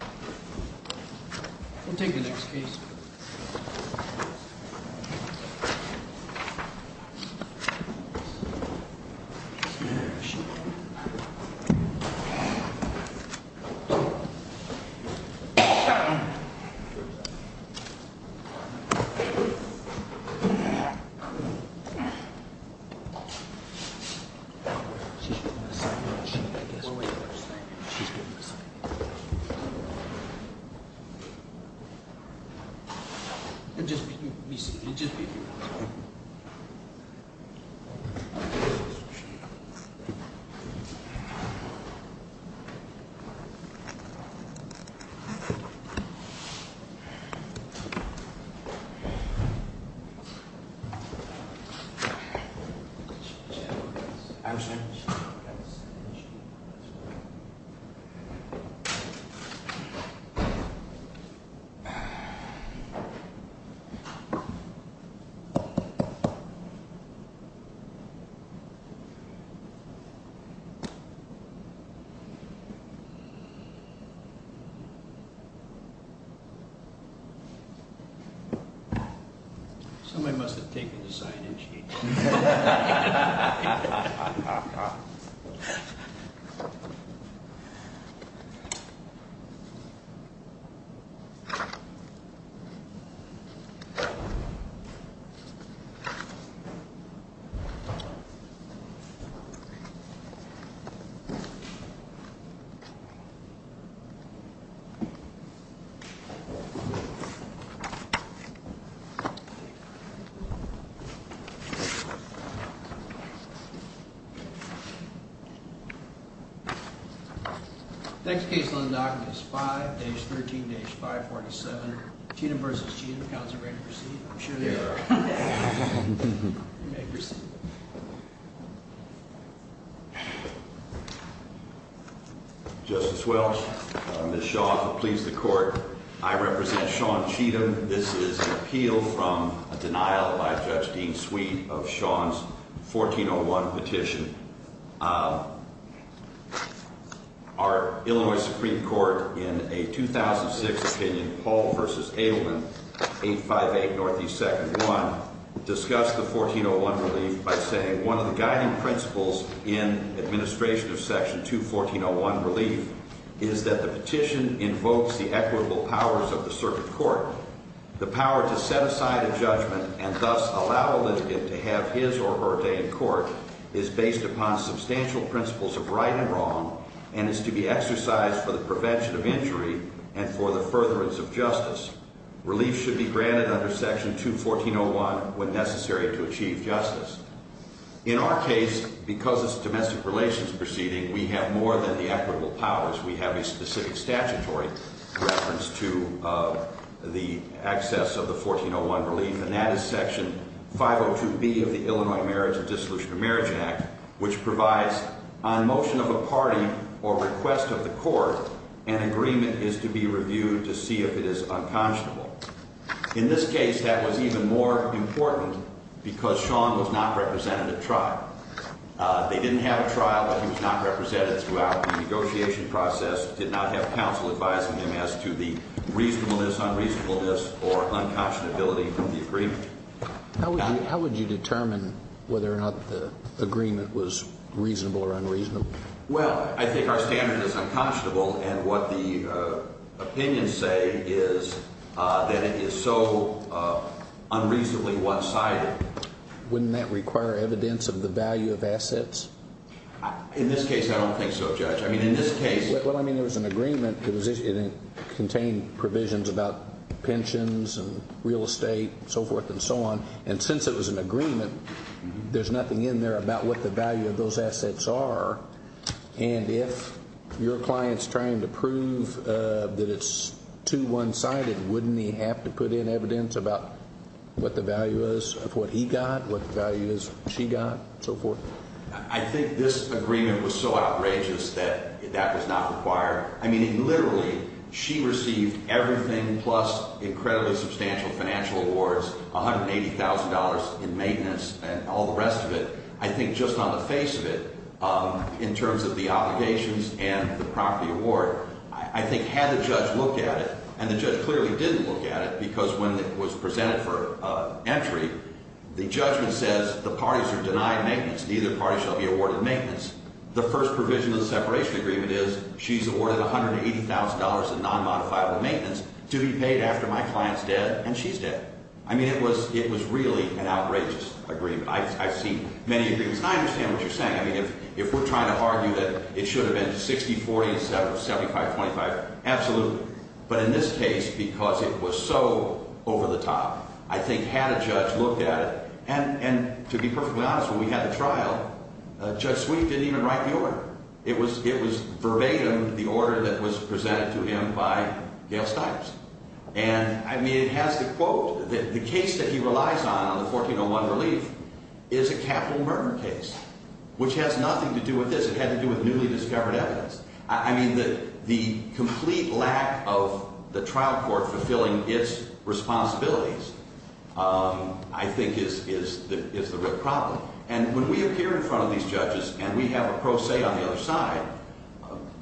We'll take the next case. We'll just be brief. Somebody must have taken the sign, didn't she? Next case on the docket is 5-13-547 Cheatham v. Cheatham. Counselor, are you ready to proceed? I'm sure they are. You may proceed. Justice Welch, Ms. Shaw, please the court. I represent Sean Cheatham. This is an appeal from a denial by Judge Dean Sweet of Sean's 1401 petition. Our Illinois Supreme Court, in a 2006 opinion, Paul v. Adelman, 858 NE 2nd 1, discussed the 1401 relief by saying, one of the guiding principles in administration of Section 214.01 relief is that the petition invokes the equitable powers of the circuit court. The power to set aside a judgment and thus allow a litigant to have his or her day in court is based upon substantial principles of right and wrong and is to be exercised for the prevention of injury and for the furtherance of justice. Relief should be granted under Section 214.01 when necessary to achieve justice. In our case, because it's a domestic relations proceeding, we have more than the equitable powers. We have a specific statutory reference to the access of the 1401 relief, and that is Section 502B of the Illinois Marriage and Dissolution of Marriage Act, which provides on motion of a party or request of the court, an agreement is to be reviewed to see if it is unconscionable. In this case, that was even more important because Sean was not represented at trial. They didn't have a trial, but he was not represented throughout the negotiation process, did not have counsel advising him as to the reasonableness, unreasonableness, or unconscionability of the agreement. How would you determine whether or not the agreement was reasonable or unreasonable? Well, I think our standard is unconscionable, and what the opinions say is that it is so unreasonably one-sided. Wouldn't that require evidence of the value of assets? In this case, I don't think so, Judge. Well, I mean, there was an agreement, and it contained provisions about pensions and real estate and so forth and so on, and since it was an agreement, there's nothing in there about what the value of those assets are, and if your client's trying to prove that it's too one-sided, wouldn't he have to put in evidence about what the value is of what he got, what the value is she got, and so forth? I think this agreement was so outrageous that that was not required. I mean, literally, she received everything plus incredibly substantial financial awards, $180,000 in maintenance, and all the rest of it. I think just on the face of it, in terms of the obligations and the property award, I think had the judge looked at it, and the judge clearly didn't look at it because when it was presented for entry, the judgment says the parties are denied maintenance, neither party shall be awarded maintenance. The first provision of the separation agreement is she's awarded $180,000 in nonmodifiable maintenance to be paid after my client's dead and she's dead. I mean, it was really an outrageous agreement. I've seen many agreements, and I understand what you're saying. I mean, if we're trying to argue that it should have been 60-40 instead of 75-25, absolutely, but in this case, because it was so over the top, I think had a judge looked at it. And to be perfectly honest, when we had the trial, Judge Sweet didn't even write the order. It was verbatim the order that was presented to him by Gail Stipes. And, I mean, it has the quote that the case that he relies on, on the 1401 relief, is a capital murder case, which has nothing to do with this. It had to do with newly discovered evidence. I mean, the complete lack of the trial court fulfilling its responsibilities, I think, is the real problem. And when we appear in front of these judges and we have a pro se on the other side,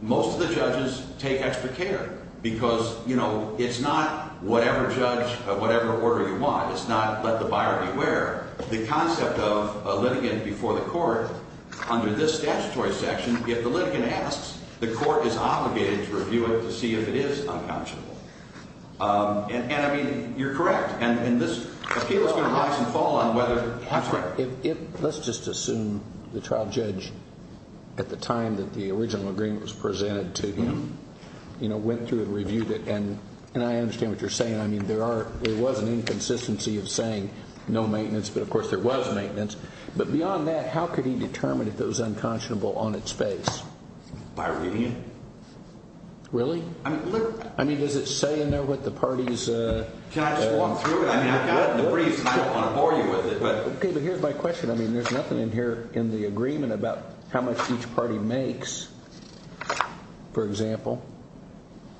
most of the judges take extra care because, you know, it's not whatever judge, whatever order you want. It's not let the buyer beware. The concept of a litigant before the court under this statutory section, if the litigant asks, the court is obligated to review it to see if it is unconscionable. And, I mean, you're correct. And this appeal is going to rise and fall on whether or not it's right. Let's just assume the trial judge at the time that the original agreement was presented to him, you know, went through and reviewed it. And I understand what you're saying. I mean, there was an inconsistency of saying no maintenance. But, of course, there was maintenance. But beyond that, how could he determine if it was unconscionable on its face? By reviewing it. Really? I mean, does it say in there what the party's – Can I just walk through it? I mean, I've got it in the briefs and I don't want to bore you with it. Okay, but here's my question. I mean, there's nothing in here in the agreement about how much each party makes, for example.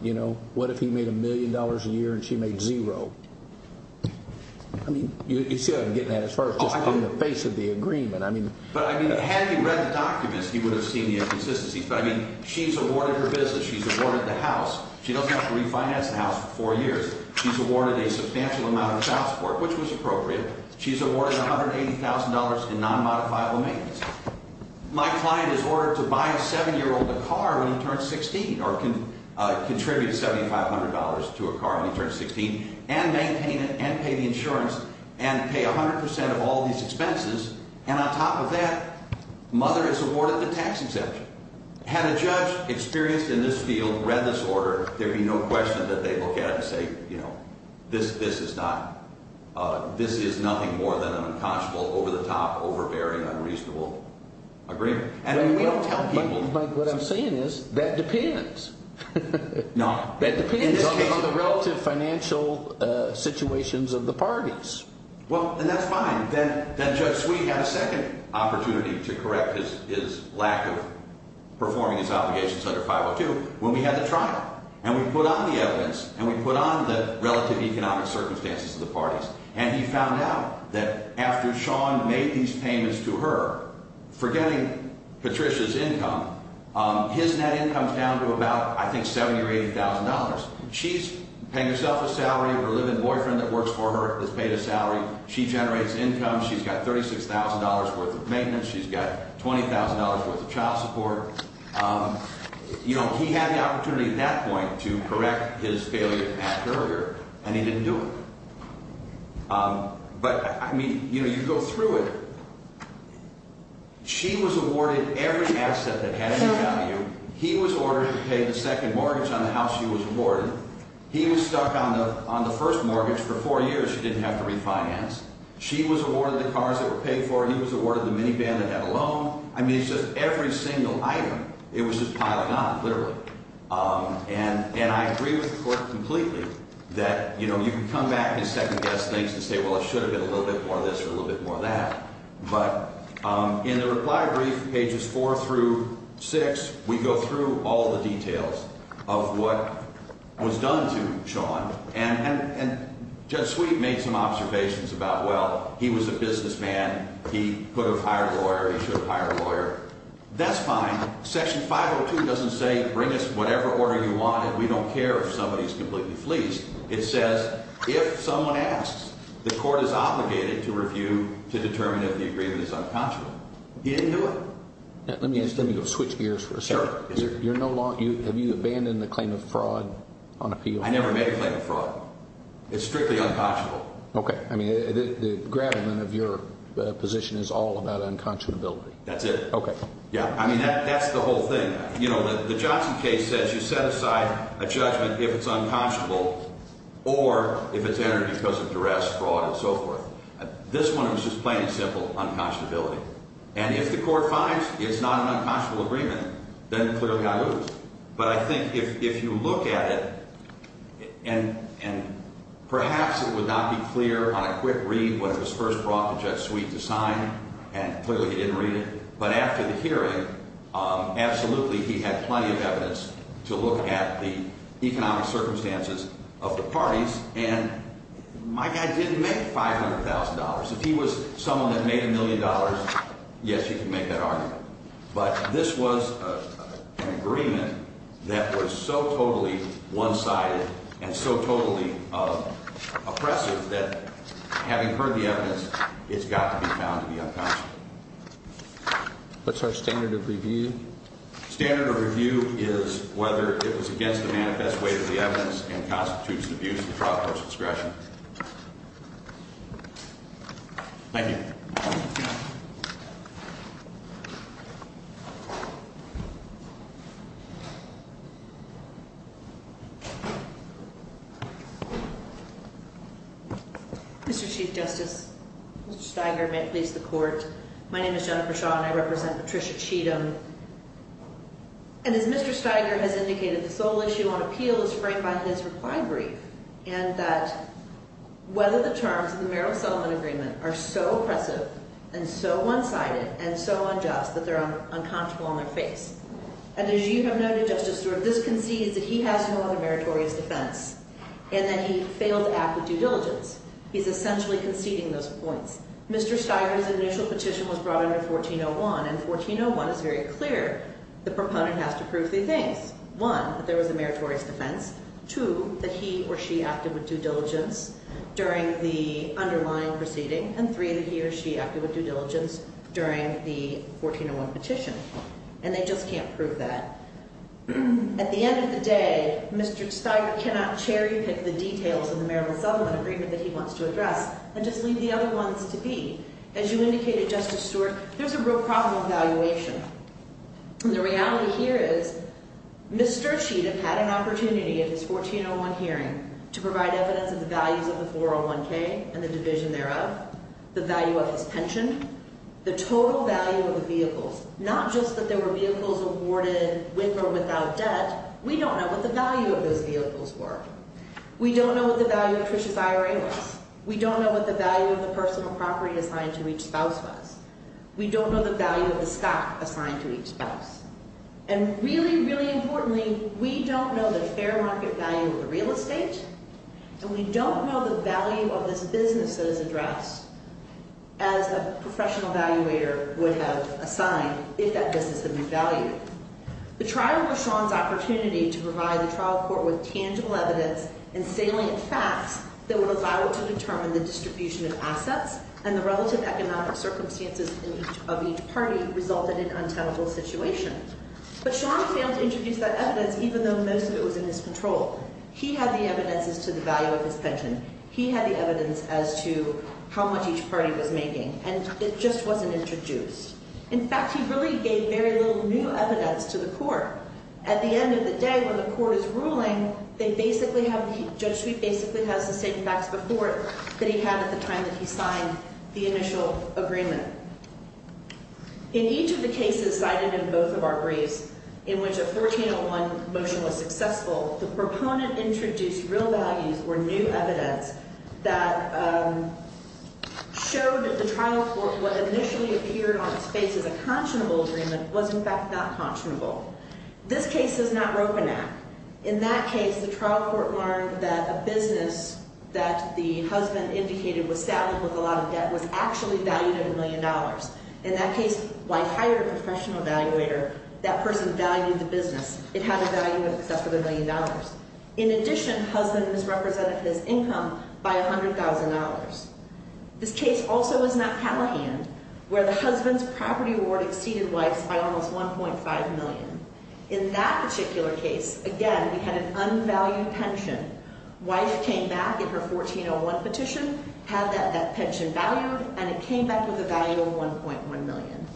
You know, what if he made a million dollars a year and she made zero? I mean, you see what I'm getting at as far as just on the face of the agreement. But, I mean, had he read the documents, he would have seen the inconsistencies. But, I mean, she's awarded her business. She's awarded the house. She doesn't have to refinance the house for four years. She's awarded a substantial amount of the house for it, which was appropriate. She's awarded $180,000 in non-modifiable maintenance. My client is ordered to buy a seven-year-old a car when he turns 16 or contribute $7,500 to a car when he turns 16 and maintain it and pay the insurance and pay 100 percent of all these expenses. And on top of that, mother is awarded the tax exemption. Had a judge experienced in this field read this order, there'd be no question that they'd look at it and say, you know, this is nothing more than an unconscionable, over-the-top, overbearing, unreasonable agreement. And we don't tell people. Mike, what I'm saying is that depends. No. That depends on the relative financial situations of the parties. Well, and that's fine. Then Judge Sweet had a second opportunity to correct his lack of performing his obligations under 502 when we had the trial and we put on the evidence and we put on the relative economic circumstances of the parties. And he found out that after Sean made these payments to her, forgetting Patricia's income, his net income is down to about, I think, $70,000 or $80,000. She's paying herself a salary. Her live-in boyfriend that works for her has paid a salary. She generates income. She's got $36,000 worth of maintenance. She's got $20,000 worth of child support. You know, he had the opportunity at that point to correct his failure to act earlier, and he didn't do it. But, I mean, you know, you go through it. She was awarded every asset that had any value. He was ordered to pay the second mortgage on the house she was awarded. He was stuck on the first mortgage for four years. She didn't have to refinance. She was awarded the cars that were paid for. He was awarded the minivan that had a loan. I mean, it's just every single item. It was just piled on, literally. And I agree with the Court completely that, you know, you can come back and second-guess things to say, well, it should have been a little bit more of this or a little bit more of that. But in the reply brief, pages four through six, we go through all the details of what was done to Sean. And Judge Sweet made some observations about, well, he was a businessman. He could have hired a lawyer. He should have hired a lawyer. That's fine. Section 502 doesn't say bring us whatever order you want and we don't care if somebody is completely fleeced. It says if someone asks, the Court is obligated to review to determine if the agreement is unconscionable. He didn't do it. Let me switch gears for a second. Sure. Have you abandoned the claim of fraud on appeal? I never made a claim of fraud. It's strictly unconscionable. Okay. I mean, the gravamen of your position is all about unconscionability. That's it. Okay. Yeah, I mean, that's the whole thing. You know, the Johnson case says you set aside a judgment if it's unconscionable or if it's entered because of duress, fraud, and so forth. This one is just plain and simple unconscionability. And if the Court finds it's not an unconscionable agreement, then clearly I lose. But I think if you look at it, and perhaps it would not be clear on a quick read when it was first brought to Judge Sweet to sign, and clearly he didn't read it, but after the hearing, absolutely he had plenty of evidence to look at the economic circumstances of the parties. And my guy didn't make $500,000. If he was someone that made a million dollars, yes, he could make that argument. But this was an agreement that was so totally one-sided and so totally oppressive that having heard the evidence, it's got to be found to be unconscionable. What's our standard of review? Standard of review is whether it was against the manifest weight of the evidence and constitutes an abuse of the trial court's discretion. Thank you. Mr. Chief Justice, Mr. Steiger, may it please the Court. My name is Jennifer Shaw, and I represent Patricia Cheatham. And as Mr. Steiger has indicated, this whole issue on appeal is framed by his reply brief and that whether the terms of the Merrill Settlement Agreement are so oppressive and so one-sided and so unjust that they're unconscionable on their face. And as you have noted, Justice Stewart, this concedes that he has no other meritorious defense and that he failed to act with due diligence. He's essentially conceding those points. Mr. Steiger's initial petition was brought under 1401, and 1401 is very clear. The proponent has to prove three things. One, that there was a meritorious defense. Two, that he or she acted with due diligence during the underlying proceeding. And three, that he or she acted with due diligence during the 1401 petition. And they just can't prove that. At the end of the day, Mr. Steiger cannot cherry-pick the details of the Merrill Settlement Agreement that he wants to address and just leave the other ones to be. As you indicated, Justice Stewart, there's a real problem of valuation. And the reality here is Mr. Cheatham had an opportunity at his 1401 hearing to provide evidence of the values of the 401k and the division thereof, the value of his pension, the total value of the vehicles, not just that there were vehicles awarded with or without debt. We don't know what the value of those vehicles were. We don't know what the value of Trisha's IRA was. We don't know what the value of the personal property assigned to each spouse was. We don't know the value of the stock assigned to each spouse. And really, really importantly, we don't know the fair market value of the real estate, and we don't know the value of this business that is addressed as a professional evaluator would have assigned if that business had been valued. The trial was Sean's opportunity to provide the trial court with tangible evidence and salient facts that would allow it to determine the distribution of assets and the relative economic circumstances of each party resulted in untenable situations. But Sean failed to introduce that evidence even though most of it was in his control. He had the evidences to the value of his pension. He had the evidence as to how much each party was making, and it just wasn't introduced. In fact, he really gave very little new evidence to the court. At the end of the day, when the court is ruling, they basically have— the initial agreement. In each of the cases cited in both of our briefs in which a 1401 motion was successful, the proponent introduced real values or new evidence that showed that the trial court, what initially appeared on its face as a conscionable agreement was, in fact, not conscionable. This case is not Roponac. In that case, the trial court learned that a business that the husband indicated was saddled with a lot of debt was actually valued at $1 million. In that case, wife hired a professional evaluator. That person valued the business. It had a value of $1 million. In addition, husband misrepresented his income by $100,000. This case also is not Callahan, where the husband's property award exceeded wife's by almost $1.5 million. In that particular case, again, we had an unvalued pension. Wife came back in her 1401 petition, had that pension valued, and it came back with a value of $1.1 million.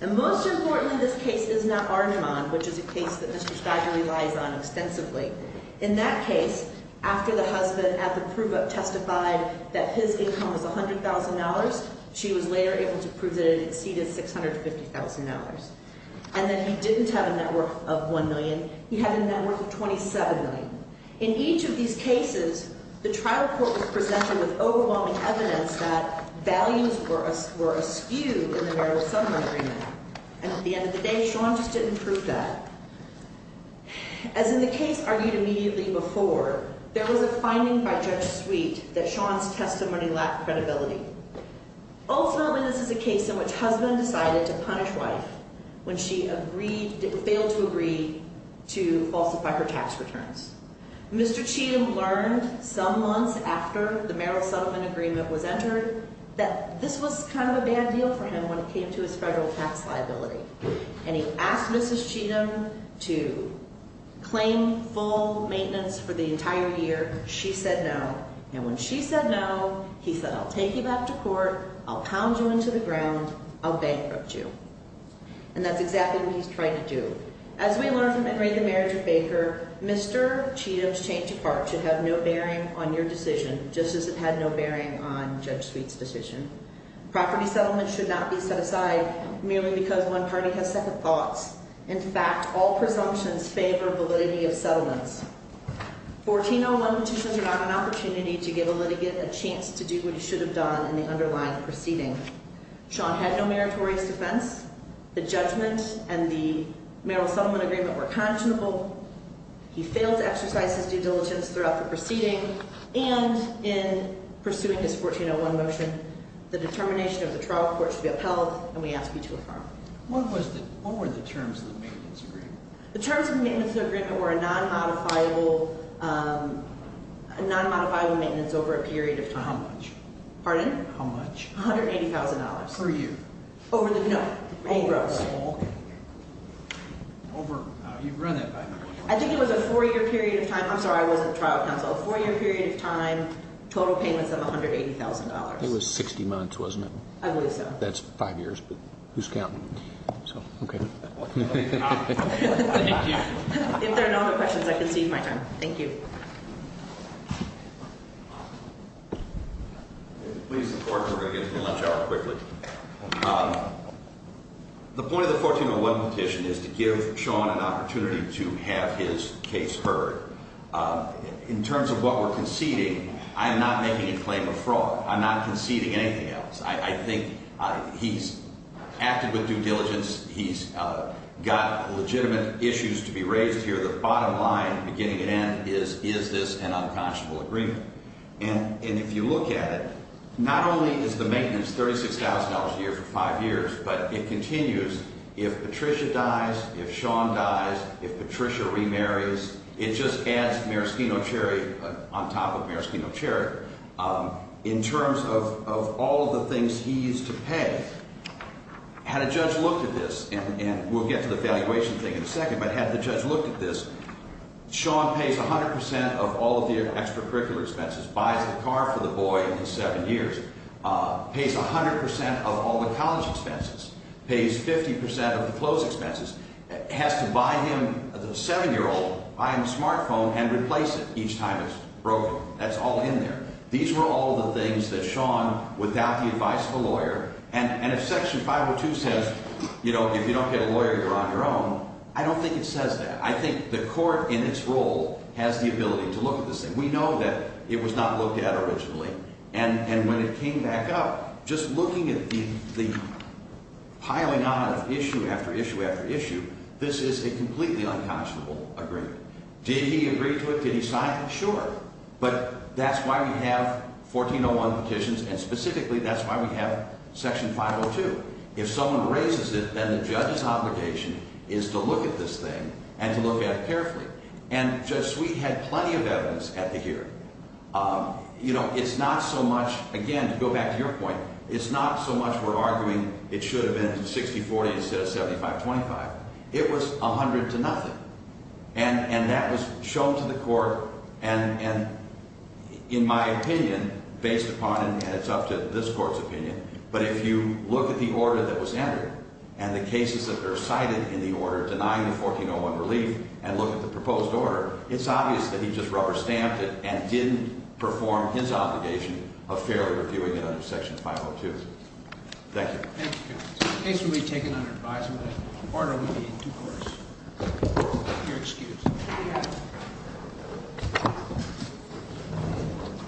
And most importantly, this case is not Arniman, which is a case that Mr. Spagli relies on extensively. In that case, after the husband at the prove-up testified that his income was $100,000, she was later able to prove that it exceeded $650,000. And then he didn't have a net worth of $1 million. He had a net worth of $27 million. In each of these cases, the trial court was presented with overwhelming evidence that values were askew in the marital settlement agreement. And at the end of the day, Sean just didn't prove that. As in the case argued immediately before, there was a finding by Judge Sweet that Sean's testimony lacked credibility. Ultimately, this is a case in which husband decided to punish wife when she failed to agree to falsify her tax returns. Mr. Cheatham learned some months after the marital settlement agreement was entered that this was kind of a bad deal for him when it came to his federal tax liability. And he asked Mrs. Cheatham to claim full maintenance for the entire year. She said no. And when she said no, he said, I'll take you back to court. I'll pound you into the ground. I'll bankrupt you. And that's exactly what he's trying to do. As we learned from Enrique, the marriage of Baker, Mr. Cheatham's change of heart should have no bearing on your decision, just as it had no bearing on Judge Sweet's decision. Property settlement should not be set aside merely because one party has second thoughts. In fact, all presumptions favor validity of settlements. 1401 petitions are not an opportunity to give a litigant a chance to do what he should have done in the underlying proceeding. Sean had no meritorious defense. The judgment and the marital settlement agreement were conscionable. He failed to exercise his due diligence throughout the proceeding. And in pursuing his 1401 motion, the determination of the trial court should be upheld, and we ask you to affirm. What were the terms of the maintenance agreement? The terms of the maintenance agreement were a non-modifiable maintenance over a period of time. How much? Pardon? How much? $180,000. Per year? No. Overall? You've run that by now. I think it was a four-year period of time. I'm sorry, I wasn't trial counsel. A four-year period of time, total payments of $180,000. It was 60 months, wasn't it? I believe so. That's five years, but who's counting? Okay. If there are no other questions, I concede my time. Thank you. The point of the 1401 petition is to give Sean an opportunity to have his case heard. In terms of what we're conceding, I am not making a claim of fraud. I'm not conceding anything else. I think he's acted with due diligence. He's got legitimate issues to be raised here. The bottom line, beginning and end, is, is this an unconscionable agreement? And if you look at it, not only is the maintenance $36,000 a year for five years, but it continues. If Patricia dies, if Sean dies, if Patricia remarries, it just adds maraschino cherry on top of maraschino cherry. In terms of all of the things he used to pay, had a judge looked at this, and we'll get to the valuation thing in a second, but had the judge looked at this, Sean pays 100 percent of all of the extracurricular expenses, buys a car for the boy in his seven years, pays 100 percent of all the college expenses, pays 50 percent of the clothes expenses, has to buy him, the seven-year-old, buy him a smartphone and replace it each time it's broken. That's all in there. These were all the things that Sean, without the advice of a lawyer, and if Section 502 says, you know, if you don't get a lawyer, you're on your own, I don't think it says that. I think the court in its role has the ability to look at this thing. We know that it was not looked at originally. And when it came back up, just looking at the piling on of issue after issue after issue, this is a completely unconscionable agreement. Did he agree to it? Did he sign it? Sure. But that's why we have 1401 petitions, and specifically that's why we have Section 502. If someone raises it, then the judge's obligation is to look at this thing and to look at it carefully. And Judge Sweet had plenty of evidence at the hearing. You know, it's not so much, again, to go back to your point, it's not so much we're arguing it should have been 60-40 instead of 75-25. It was 100 to nothing. And that was shown to the court, and in my opinion, based upon, and it's up to this court's opinion, but if you look at the order that was entered and the cases that are cited in the order denying the 1401 relief and look at the proposed order, it's obvious that he just rubber-stamped it and didn't perform his obligation of fairly reviewing it under Section 502. Thank you. Thank you. The case will be taken under advisement. The order will be in due course. If you'll excuse me.